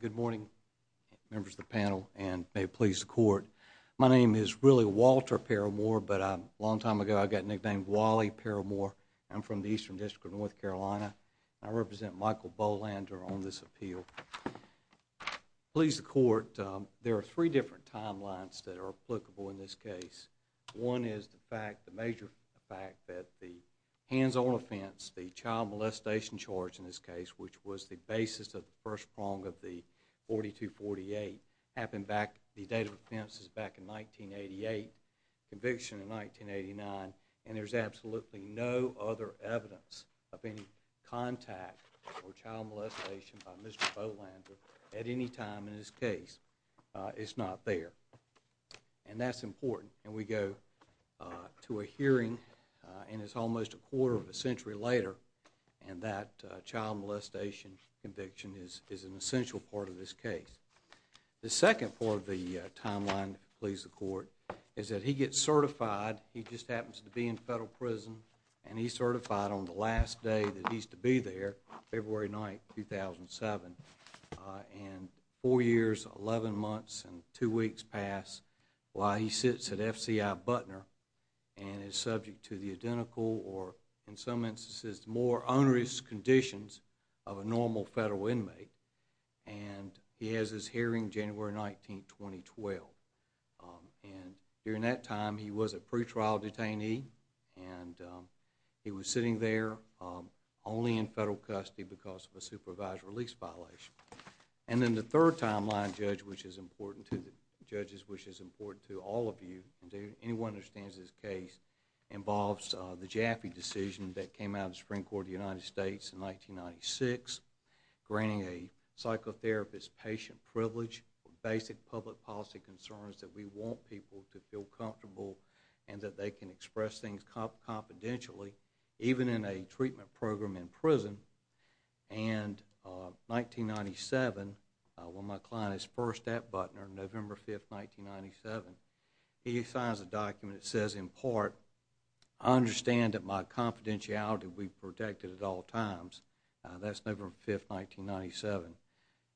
Good morning, members of the panel, and may it please the Court, my name is really Walter Perilmore, but a long time ago I got nicknamed Wally Perilmore. I'm from the Eastern District of North Carolina, and I represent Mikel Bolander on this appeal. Please the Court, there are three different timelines that are applicable in this case. One is the major fact that the hands-on offense, the child molestation charge in this case, which was the basis of the first 1988 conviction in 1989, and there's absolutely no other evidence of any contact or child molestation by Mr. Bolander at any time in this case. It's not there. And that's important. And we go to a hearing, and it's almost a quarter of a century later, and that child the Court, is that he gets certified. He just happens to be in federal prison, and he's certified on the last day that he's to be there, February 9, 2007. And four years, 11 months, and two weeks pass while he sits at FCI Butner and is subject to the identical or, in some instances, more onerous conditions of a normal federal inmate. And he has his trial in January 19, 2012. And during that time, he was a pretrial detainee, and he was sitting there only in federal custody because of a supervised release violation. And then the third timeline, Judge, which is important to the judges, which is important to all of you, and anyone who understands this case, involves the Jaffe decision that came out of the Supreme Court of the United States in 1996, granting a psychotherapist patient privilege, basic public policy concerns that we want people to feel comfortable and that they can express things confidentially, even in a treatment program in prison. And 1997, when my client is first at Butner, November 5, 1997, he signs a document that says, in all times, that's November 5, 1997.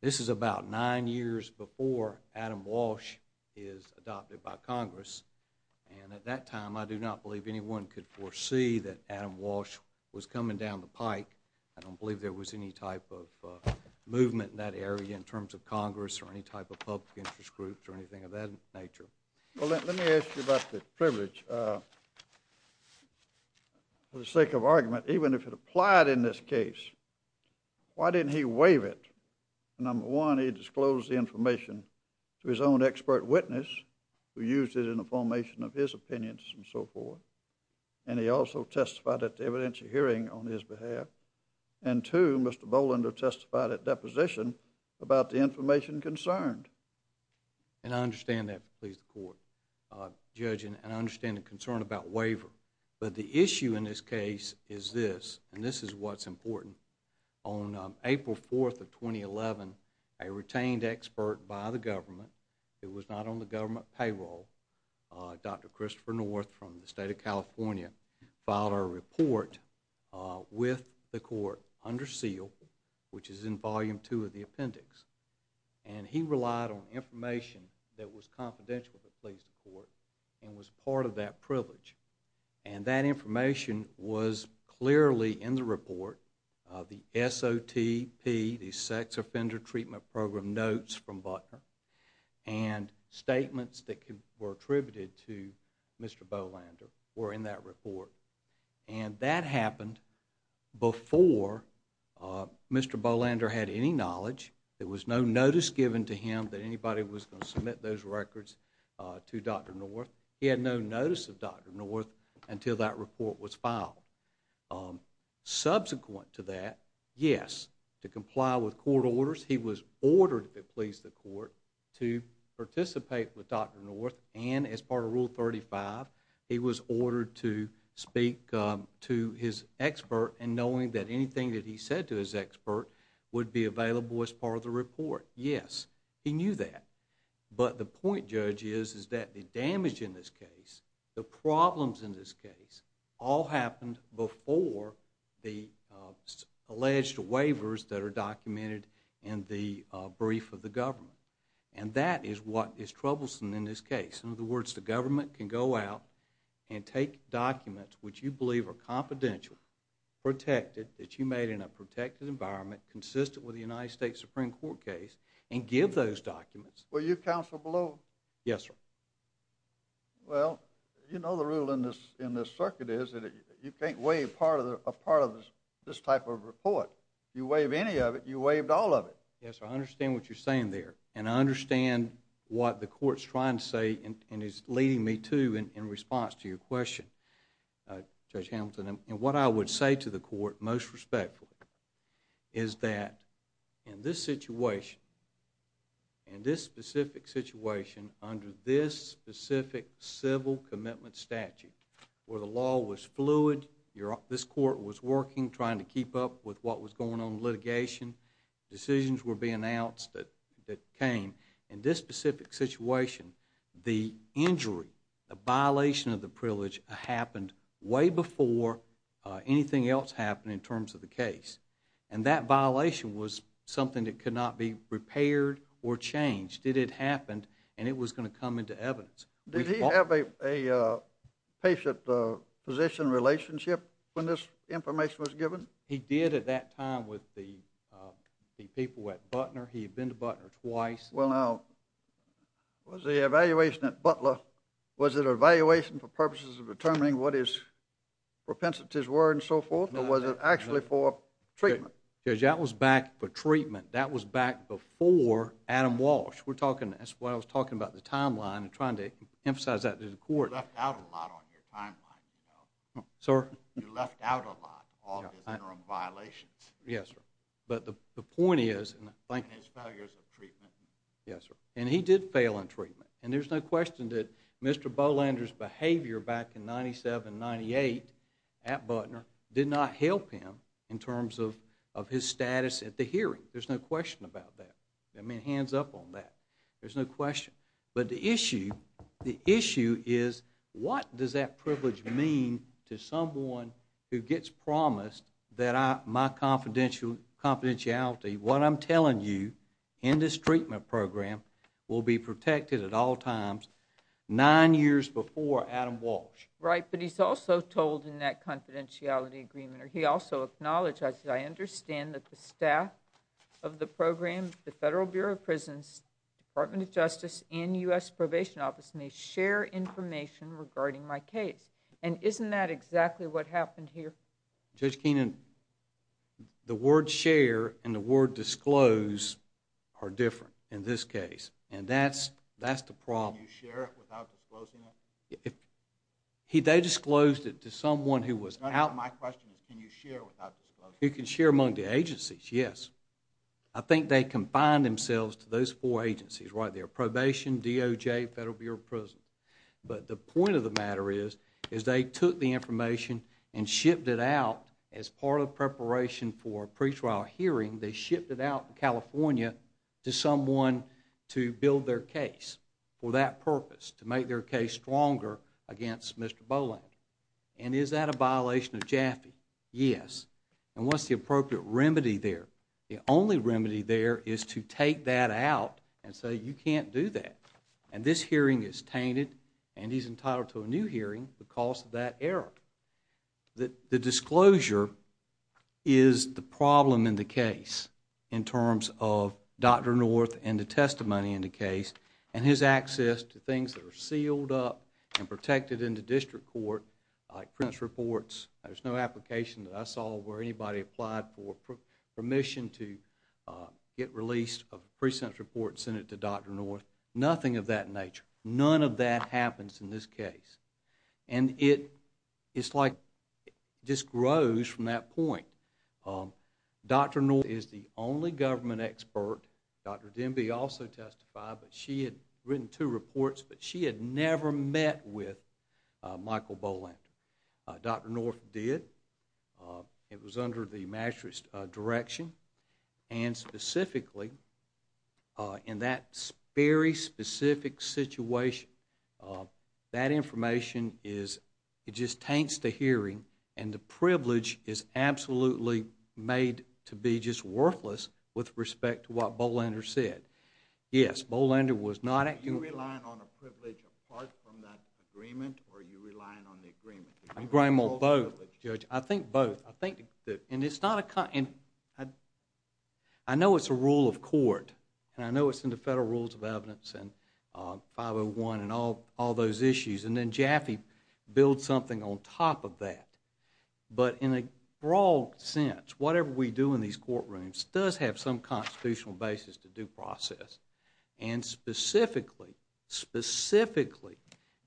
This is about nine years before Adam Walsh is adopted by Congress. And at that time, I do not believe anyone could foresee that Adam Walsh was coming down the pike. I don't believe there was any type of movement in that area in terms of Congress or any type of public interest groups or anything of that nature. Well, let me ask you about the privilege. For the sake of argument, even if it applied in this case, why didn't he waive it? Number one, he disclosed the information to his own expert witness, who used it in the formation of his opinions and so forth. And he also testified at the evidentiary hearing on his behalf. And two, Mr. Bolander testified at deposition about the information concerned. And I understand that, Judge, and I understand the concern about waiver. But the issue in this case is this, and this is what's important. On April 4 of 2011, a retained expert by the government, who was not on the government payroll, Dr. Christopher North from the State of California, filed a report with the court under seal, which is in volume two of the SOTP, the Sex Offender Treatment Program Notes from Butner. And statements that were attributed to Mr. Bolander were in that report. And that happened before Mr. Bolander had any knowledge. There was no notice given to him that anybody was going to submit those records to Dr. North. He had no notice of Dr. North until that report was filed. Subsequent to that, yes, to comply with court orders, he was ordered, if it pleased the court, to participate with Dr. North. And as part of Rule 35, he was ordered to speak to his expert in knowing that anything that he said to his expert would be available as part of the report. Yes, he knew that. But the point, Judge, is that the damage in this case, the problems in this case, all happened before the alleged waivers that are documented in the brief of the government. And that is what is troublesome in this case. In other words, the government can go out and take documents which you believe are confidential, protected, that you made in a protected environment, consistent with the United States Supreme Court case, and give those documents. Were you counsel below? Yes, sir. Well, you know the rule in this circuit is that you can't waive a part of this type of report. You waive any of it, you waived all of it. Yes, sir. I understand what you're saying there. And I understand what the court's trying to say and is leading me to in response to your question, Judge Hamilton. And what I would say to the court, most respectfully, is that in this situation, in this specific situation, under this specific civil commitment statute, where the law was fluid, this court was working, trying to keep up with what was going on in litigation, decisions were being announced that came. In this specific situation, the injury, the violation of the privilege happened way before anything else happened in terms of the case. And that violation was something that could not be repaired or changed. It had happened and it was going to come into evidence. Did he have a patient-physician relationship when this information was given? He did at that time with the people at Butner. He had been to Butner twice. Well, now, was the evaluation at Butler, was it an evaluation for purposes of determining what his propensities were and so forth, or was it actually for treatment? Judge, that was back for treatment. That was back before Adam Walsh. That's why I was talking about the timeline and trying to emphasize that to the court. You left out a lot on your timeline. You left out a lot, all of his interim violations. Yes, sir. But the point is... And his failures of treatment. Yes, sir. And he did fail in treatment. And there's no question that Mr. Bolander's behavior back in 1997-98 at Butner did not help him in terms of his status at the hearing. There's no question about that. I mean, hands up on that. There's no question. But the issue, the issue is what does that privilege mean to someone who gets promised that my confidentiality, what I'm telling you, in this treatment program will be protected at all times nine years before Adam Walsh. Right, but he's also told in that confidentiality agreement, or he also acknowledged, I said, and U.S. Probation Office may share information regarding my case. And isn't that exactly what happened here? Judge Keenan, the word share and the word disclose are different in this case. And that's the problem. Can you share it without disclosing it? They disclosed it to someone who was out. My question is, can you share without disclosing it? You can share among the agencies, yes. I think they combined themselves to those four agencies, right there, probation, DOJ, Federal Bureau of Prisons. But the point of the matter is, is they took the information and shipped it out as part of preparation for a pretrial hearing. They shipped it out to California to someone to build their case for that purpose, to make their case stronger against Mr. Boland. And is that a violation of Jaffe? Yes. And what's the appropriate remedy there? The only remedy there is to take that out and say, you can't do that. And this hearing is tainted, and he's entitled to a new hearing because of that error. The disclosure is the problem in the case, in terms of Dr. North and the testimony in the case, and his access to things that are sealed up and protected in the district court, like pre-sentence reports. There's no application that I saw where anybody applied for permission to get released a pre-sentence report and send it to Dr. North. Nothing of that nature. None of that happens in this case. And it's like, it just grows from that point. Dr. North is the only government expert. Dr. Demby also testified, but she had written two reports, but she had never met with Michael Bolander. Dr. North did. It was under the magistrate's direction. And specifically, in that very specific situation, that information is, it just taints the hearing, and the privilege is absolutely made to be just worthless with respect to what Bolander said. Yes, Bolander was not acting. Are you relying on a privilege apart from that agreement, or are you relying on the agreement? I'm relying on both, Judge. I think both. I think that, and it's not a, I know it's a rule of court, and I know it's in the Federal Rules of Evidence and 501 and all those issues, and then Jaffe builds something on top of that. But in a broad sense, whatever we do in these courtrooms does have some constitutional basis to due process. And specifically, specifically,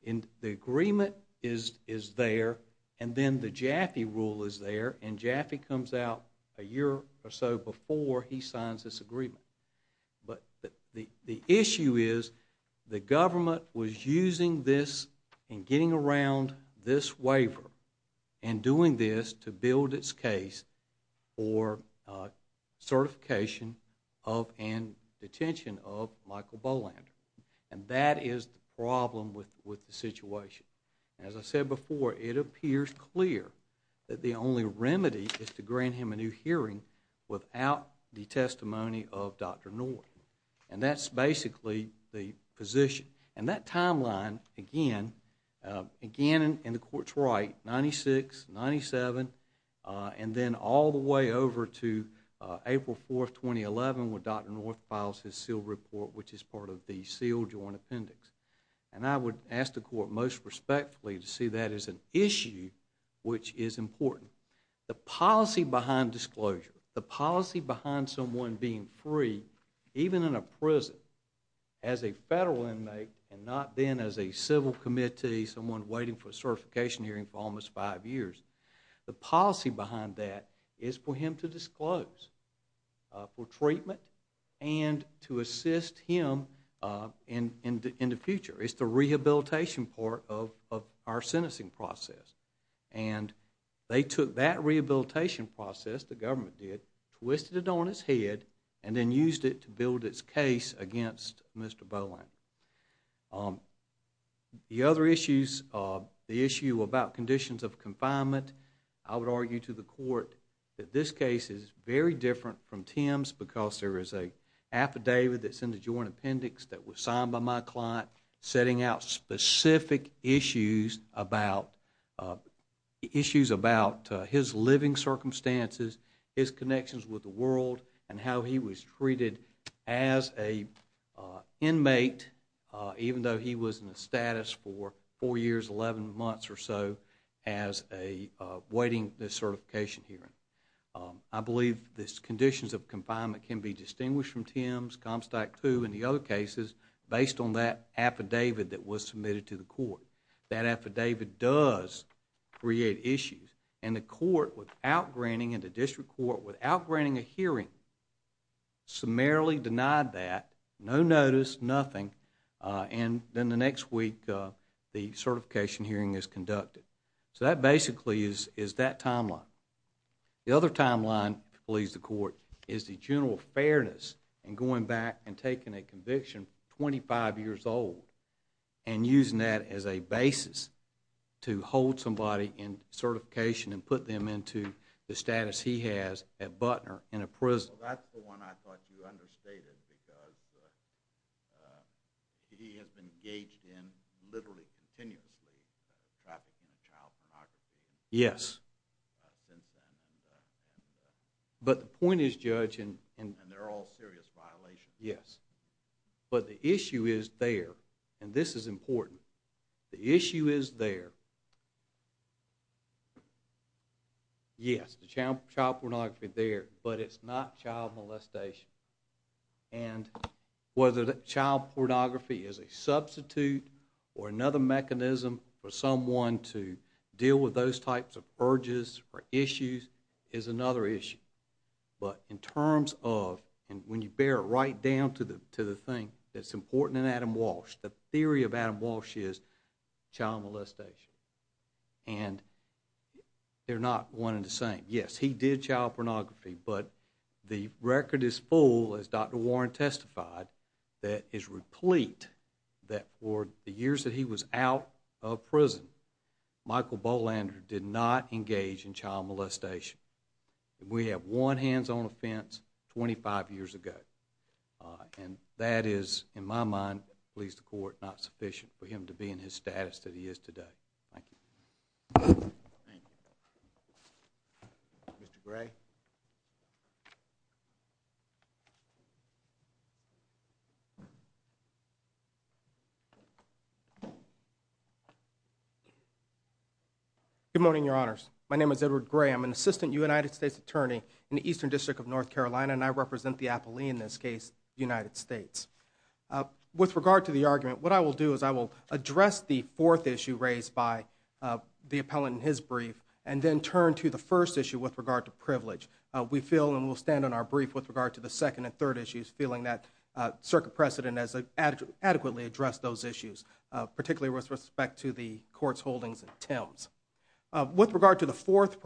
the agreement is there, and then the Jaffe rule is there, and Jaffe comes out a year or so before he signs this agreement. But the issue is, the government was using this in getting around this waiver, and doing this to build its case for certification of and detention of Michael Bolander. And that is the problem with the situation. As I said before, it appears clear that the only remedy is to grant him a new hearing without the testimony of Dr. North. And that's basically the position. And that timeline, again, again, and the court's right, 96, 97, and then all the way over to April 4, 2011, when Dr. North files his seal report, which is part of the seal joint appendix. And I would ask the court most respectfully to see that as an issue which is important. The policy behind disclosure, the policy behind someone being free, even in a prison, as a federal inmate and not then as a civil committee, someone waiting for a certification hearing for almost five years, the policy behind that is for him to disclose for treatment and to assist him in the future. It's the rehabilitation part of our sentencing process. And they took that rehabilitation process, the government did, twisted it on its head, and then used it to build its case against Mr. Bolander. The other issues, the issue about conditions of confinement, I would argue to the court that this case is very different from Tim's because there is an affidavit that's in the joint appendix that was signed by my client setting out specific issues about his living circumstances, his connections with the world, and how he was treated as an inmate, even though he was in the status for four years, 11 months or so, as a waiting certification hearing. I believe the conditions of confinement can be distinguished from Tim's, Comstack II, and the other cases based on that affidavit that was submitted to the court. That affidavit does create issues. And the court, without granting, and the district court, without granting a hearing, summarily denied that, no notice, nothing, and then the next week the certification hearing is conducted. So that basically is that timeline. The other timeline, believes the court, is the general fairness in going back and taking a conviction 25 years old and using that as a basis to hold somebody in certification and put them into the status he has at Butner in a prison. So that's the one I thought you understated because he has been engaged in, literally continuously, trafficking and child pornography. Yes. Since then. But the point is, Judge. And they're all serious violations. Yes. But the issue is there, and this is important, the issue is there. Yes, the child pornography there, but it's not child molestation. And whether child pornography is a substitute or another mechanism for someone to deal with those types of urges or issues is another issue. But in terms of, and when you bear it right down to the thing that's important in Adam Walsh, the theory of Adam Walsh is child molestation. And they're not one and the same. Yes, he did child pornography, but the record is full, as Dr. Warren testified, that is replete that for the years that he was out of prison, Michael Bolander did not engage in child molestation. We have one hands-on offense 25 years ago. And that is, in my mind, believes the court, not sufficient for him to be in his status that he is today. Thank you. Thank you. Mr. Gray. Good morning, Your Honors. My name is Edward Gray. I'm an Assistant United States Attorney in the Eastern District of North Carolina, and I represent the appellee in this case, the United States. With regard to the argument, what I will do is I will address the fourth issue raised by the appellant in his brief, and then turn to the first issue with regard to privilege. We feel, and we'll stand on our brief with regard to the second and third issues, feeling that Circuit Precedent has adequately addressed those issues, particularly with respect to the court's holdings in Thames. With regard to the fourth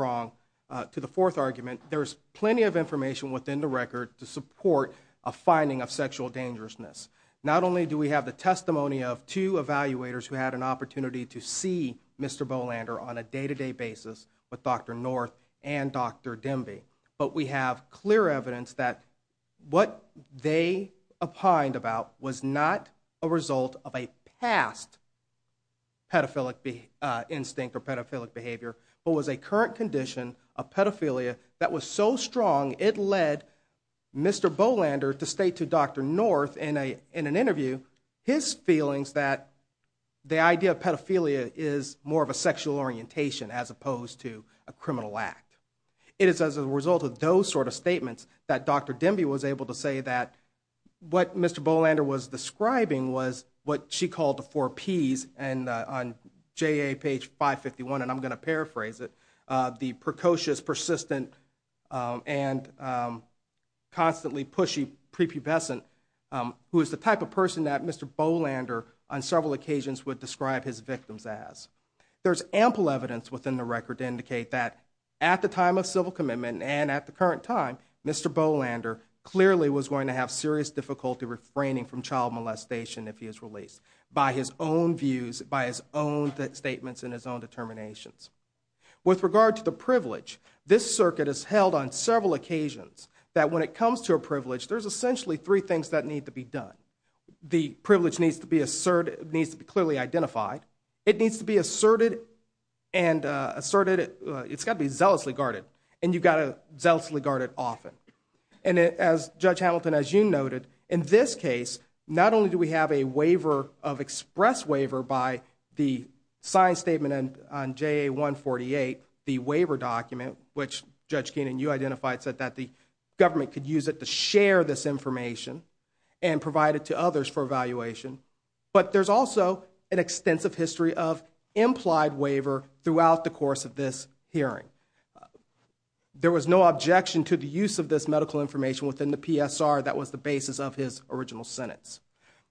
argument, there's plenty of information within the record to support a finding of sexual dangerousness. Not only do we have the testimony of two evaluators who had an opportunity to see Mr. Bolander on a day-to-day basis with Dr. North and Dr. Demby, but we have clear evidence that what they opined about was not a result of a past pedophilic instinct or pedophilic behavior, but was a current condition of pedophilia that was so strong, it led Mr. Bolander to Dr. North in an interview, his feelings that the idea of pedophilia is more of a sexual orientation as opposed to a criminal act. It is as a result of those sort of statements that Dr. Demby was able to say that what Mr. Bolander was describing was what she called the four Ps, and on JA page 551, and I'm going to paraphrase it, the precocious, persistent, and constantly pushy, prepubescent, who is the type of person that Mr. Bolander on several occasions would describe his victims as. There's ample evidence within the record to indicate that at the time of civil commitment and at the current time, Mr. Bolander clearly was going to have serious difficulty refraining from child molestation if he is released by his own views, by his own statements, and his own determinations. With regard to the several occasions that when it comes to a privilege, there's essentially three things that need to be done. The privilege needs to be clearly identified. It needs to be asserted and asserted, it's got to be zealously guarded, and you've got to zealously guard it often. And as Judge Hamilton, as you noted, in this case, not only do we have a waiver of express waiver by the signed statement on JA 148, the waiver document, which Judge Keenan, you identified, said that the government could use it to share this information and provide it to others for evaluation, but there's also an extensive history of implied waiver throughout the course of this hearing. There was no objection to the use of this medical information within the PSR that was the basis of his original sentence.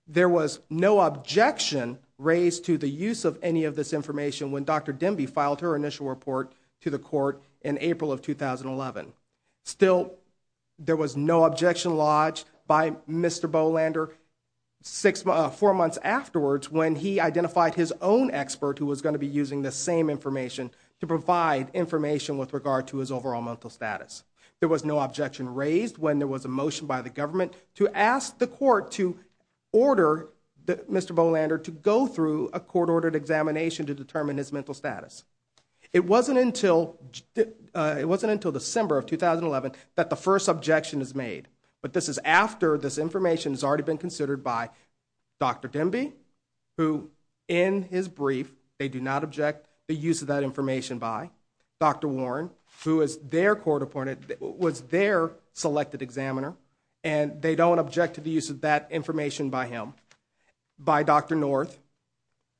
There was no objection raised to the use of any of this information when Dr. Demby filed her initial report to the court in April of 2011. Still, there was no objection lodged by Mr. Bolander four months afterwards when he identified his own expert who was going to be using this same information to provide information with regard to his overall mental status. There was no objection raised when there was a motion by the government to ask the court to order Mr. Bolander to go through a court-ordered examination to determine his mental status. It wasn't until December of 2011 that the first objection is made, but this is after this information has already been considered by Dr. Demby, who, in his brief, they do not object the was their selected examiner, and they don't object to the use of that information by him, by Dr. North,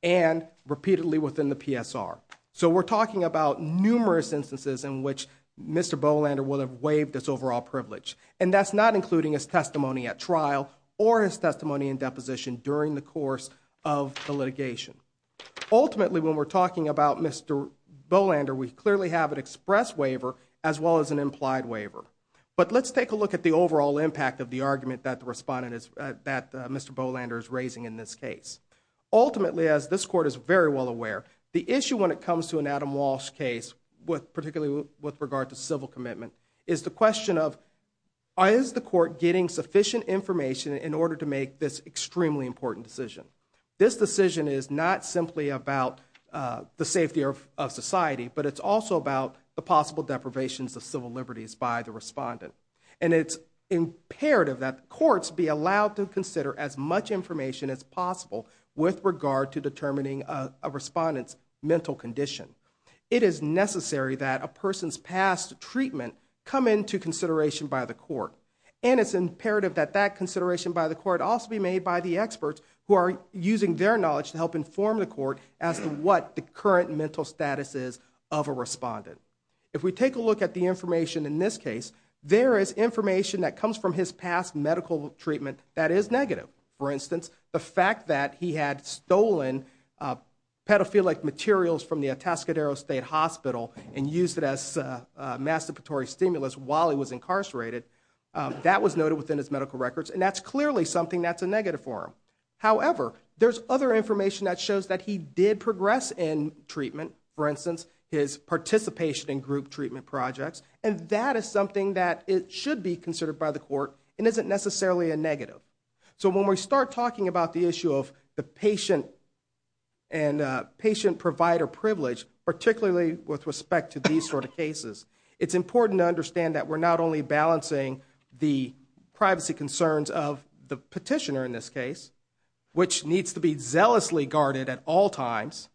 and repeatedly within the PSR. So we're talking about numerous instances in which Mr. Bolander would have waived his overall privilege, and that's not including his testimony at trial or his testimony in deposition during the course of the litigation. Ultimately, when we're talking about Mr. Bolander, we clearly have an express waiver as well as an implied waiver. But let's take a look at the overall impact of the argument that Mr. Bolander is raising in this case. Ultimately, as this court is very well aware, the issue when it comes to an Adam Walsh case, particularly with regard to civil commitment, is the question of, is the court getting sufficient information in order to make this extremely important decision? This decision is not simply about the safety of society, but it's also about the possible deprivations of civil liberties by the respondent. And it's imperative that courts be allowed to consider as much information as possible with regard to determining a respondent's mental condition. It is necessary that a person's past treatment come into consideration by the court. And it's imperative that that consideration by the court also be made by the experts who are using their knowledge to help inform the court as to what the current mental status is of a respondent. If we take a look at the information in this case, there is information that comes from his past medical treatment that is negative. For instance, the fact that he had stolen pedophilic materials from the Atascadero State Hospital and used it as a masturbatory stimulus while he was incarcerated, that was noted within his medical records, and that's clearly something that's a negative for him. However, there's other information that shows that he did progress in treatment, for instance, his participation in group treatment projects, and that is something that should be considered by the court and isn't necessarily a negative. So when we start talking about the issue of the patient and patient provider privilege, particularly with respect to these sort of cases, it's important to understand that we're not only balancing the privacy concerns of the petitioner in this case, which needs to be zealously guarded at all times,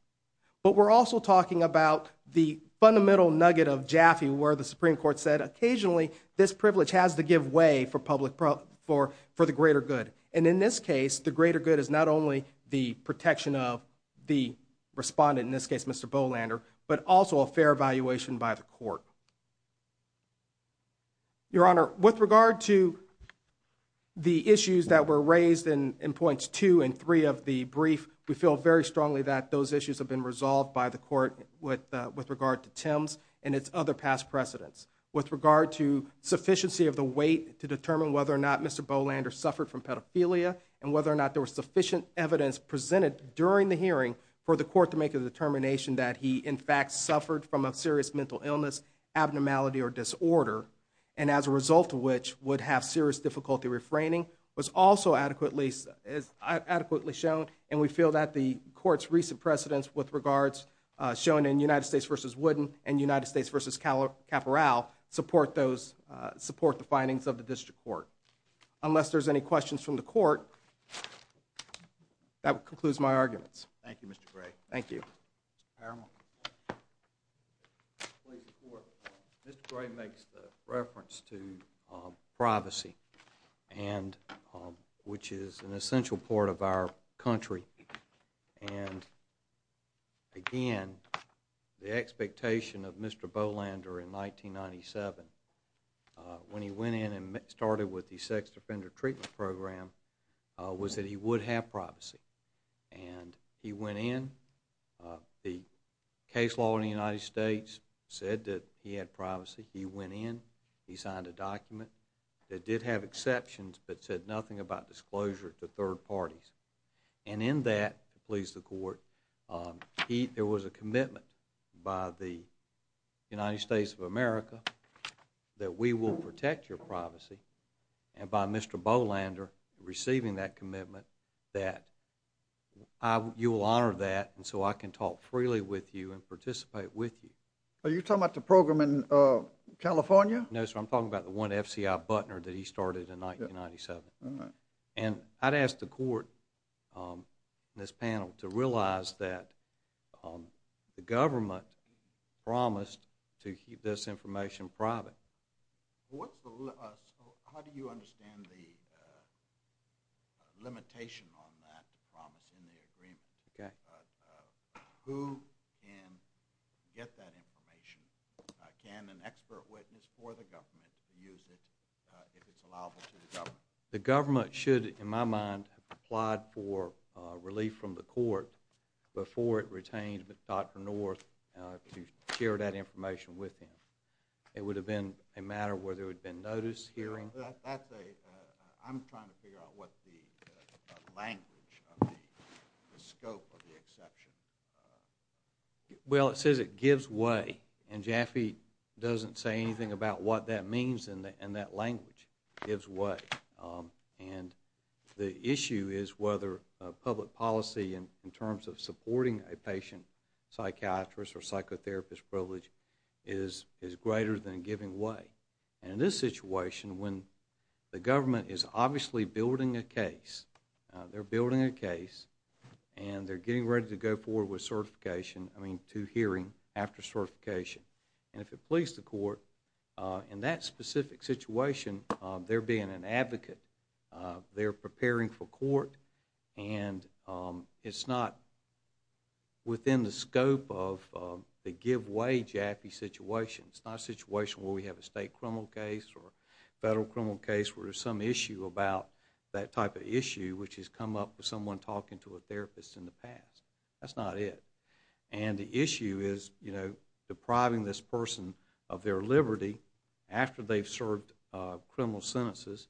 but we're also talking about the fundamental nugget of Jaffe where the Supreme Court said occasionally this privilege has to give way for the greater good. And in this case, the greater good is not only the protection of the respondent, in this case Mr. Bolander, but also a fair evaluation by the court. Your Honor, with regard to the issues that were raised in points two and three of the brief, we feel very strongly that those issues have been resolved by the court with regard to Tim's and its other past precedents. With regard to sufficiency of the weight to determine whether or not Mr. Bolander suffered from pedophilia and whether or not there was sufficient evidence presented during the hearing for the court to make a determination that he in fact suffered from a serious mental illness, abnormality, or disorder, and as a result of which would have had serious difficulty refraining, was also adequately shown, and we feel that the court's recent precedents with regards, shown in United States v. Wooden and United States v. Caporal, support the findings of the district court. Unless there's any questions from the court, that concludes my arguments. Thank you, Mr. Gray. Thank you. Mr. Paramore. Mr. Gray makes the reference to privacy, which is an essential part of our country, and again, the expectation of Mr. Bolander in 1997, when he went in and started with the Sex Offender Treatment Program, was that he would have privacy, and he went in, the case law in the United States said that he had privacy, he went in, he signed a document that did have exceptions but said nothing about disclosure to third parties, and in that, please the court, there was a commitment by the United States of America that we will protect your privacy, and by Mr. Bolander receiving that commitment, that you will honor that, and so I can talk freely with you and participate with you. Are you talking about the program in California? No, sir, I'm talking about the one at FCI Butner that he started in 1997. And I'd ask the court in this panel to realize that the government promised to keep this information private. How do you understand the limitation on that promise in the agreement? Who can get that information? Can an expert witness for the government use it if it's allowable to the government? The government should, in my mind, have applied for relief from the court before it retained Dr. North to share that information with him. It would have been a matter where there would have been notice, hearing. That's a, I'm trying to figure out what the language of the scope of the exception. Well, it says it gives way, and Jaffe doesn't say anything about what that means in that language. It gives way. And the issue is whether public policy in terms of supporting a patient, psychiatrist, or psychotherapist privilege is greater than giving way. And in this situation, when the government is obviously building a case, they're building a case and they're getting ready to go forward with certification, I mean to hearing after certification. And if it pleases the court, in that specific situation, they're being an advocate. They're preparing for court. And it's not within the scope of the give way Jaffe situation. It's not a situation where we have a state criminal case or a federal criminal case where there's some issue about that type of issue, which has come up with someone talking to a therapist in the past. That's not it. And the issue is depriving this person of their liberty after they've served criminal sentences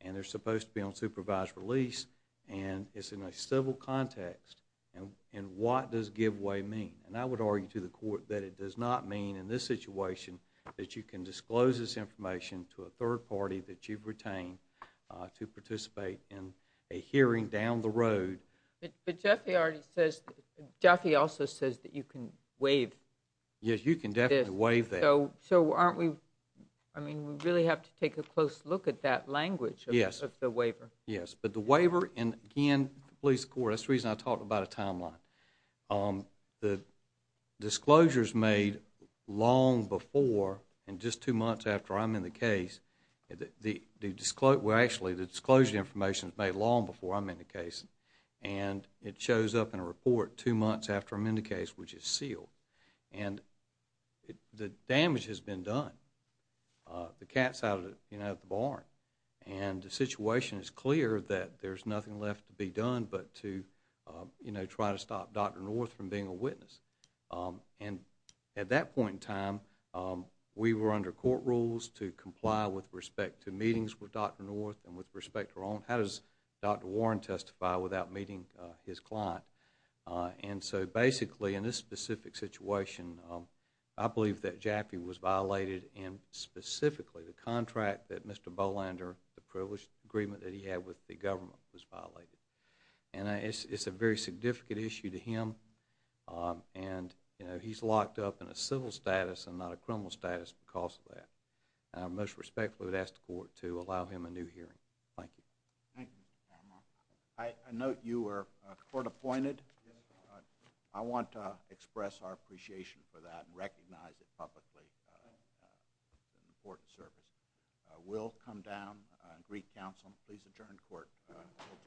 and they're supposed to be on supervised release and it's in a civil context. And what does give way mean? And I would argue to the court that it does not mean in this situation that you can disclose this information to a third party that you've retained to participate in a hearing down the road. But Jaffe already says, Jaffe also says that you can waive this. Yes, you can definitely waive that. So aren't we, I mean, we really have to take a close look at that language of the waiver. Yes, but the waiver, and again, it pleases the court. That's the reason I talked about a timeline. The disclosure is made long before and just two months after I'm in the case. Actually, the disclosure information is made long before I'm in the case. And it shows up in a report two months after I'm in the case, which is sealed. And the damage has been done. The cat's out of the barn. And the situation is clear that there's nothing left to be done but to try to stop Dr. North from being a witness. And at that point in time, we were under court rules to comply with respect to meetings with Dr. North and with respect to Ron. How does Dr. Warren testify without meeting his client? And so basically, in this specific situation, I believe that Jaffee was violated in specifically the contract that Mr. Bolander, the privileged agreement that he had with the government, was violated. And it's a very significant issue to him. And he's locked up in a civil status and not a criminal status because of that. And I most respectfully would ask the court to allow him a new hearing. Thank you. Thank you, Mr. Carramore. I note you were court appointed. I want to express our appreciation for that and recognize it publicly. It's an important service. We'll come down and re-counsel. Please adjourn court until tomorrow.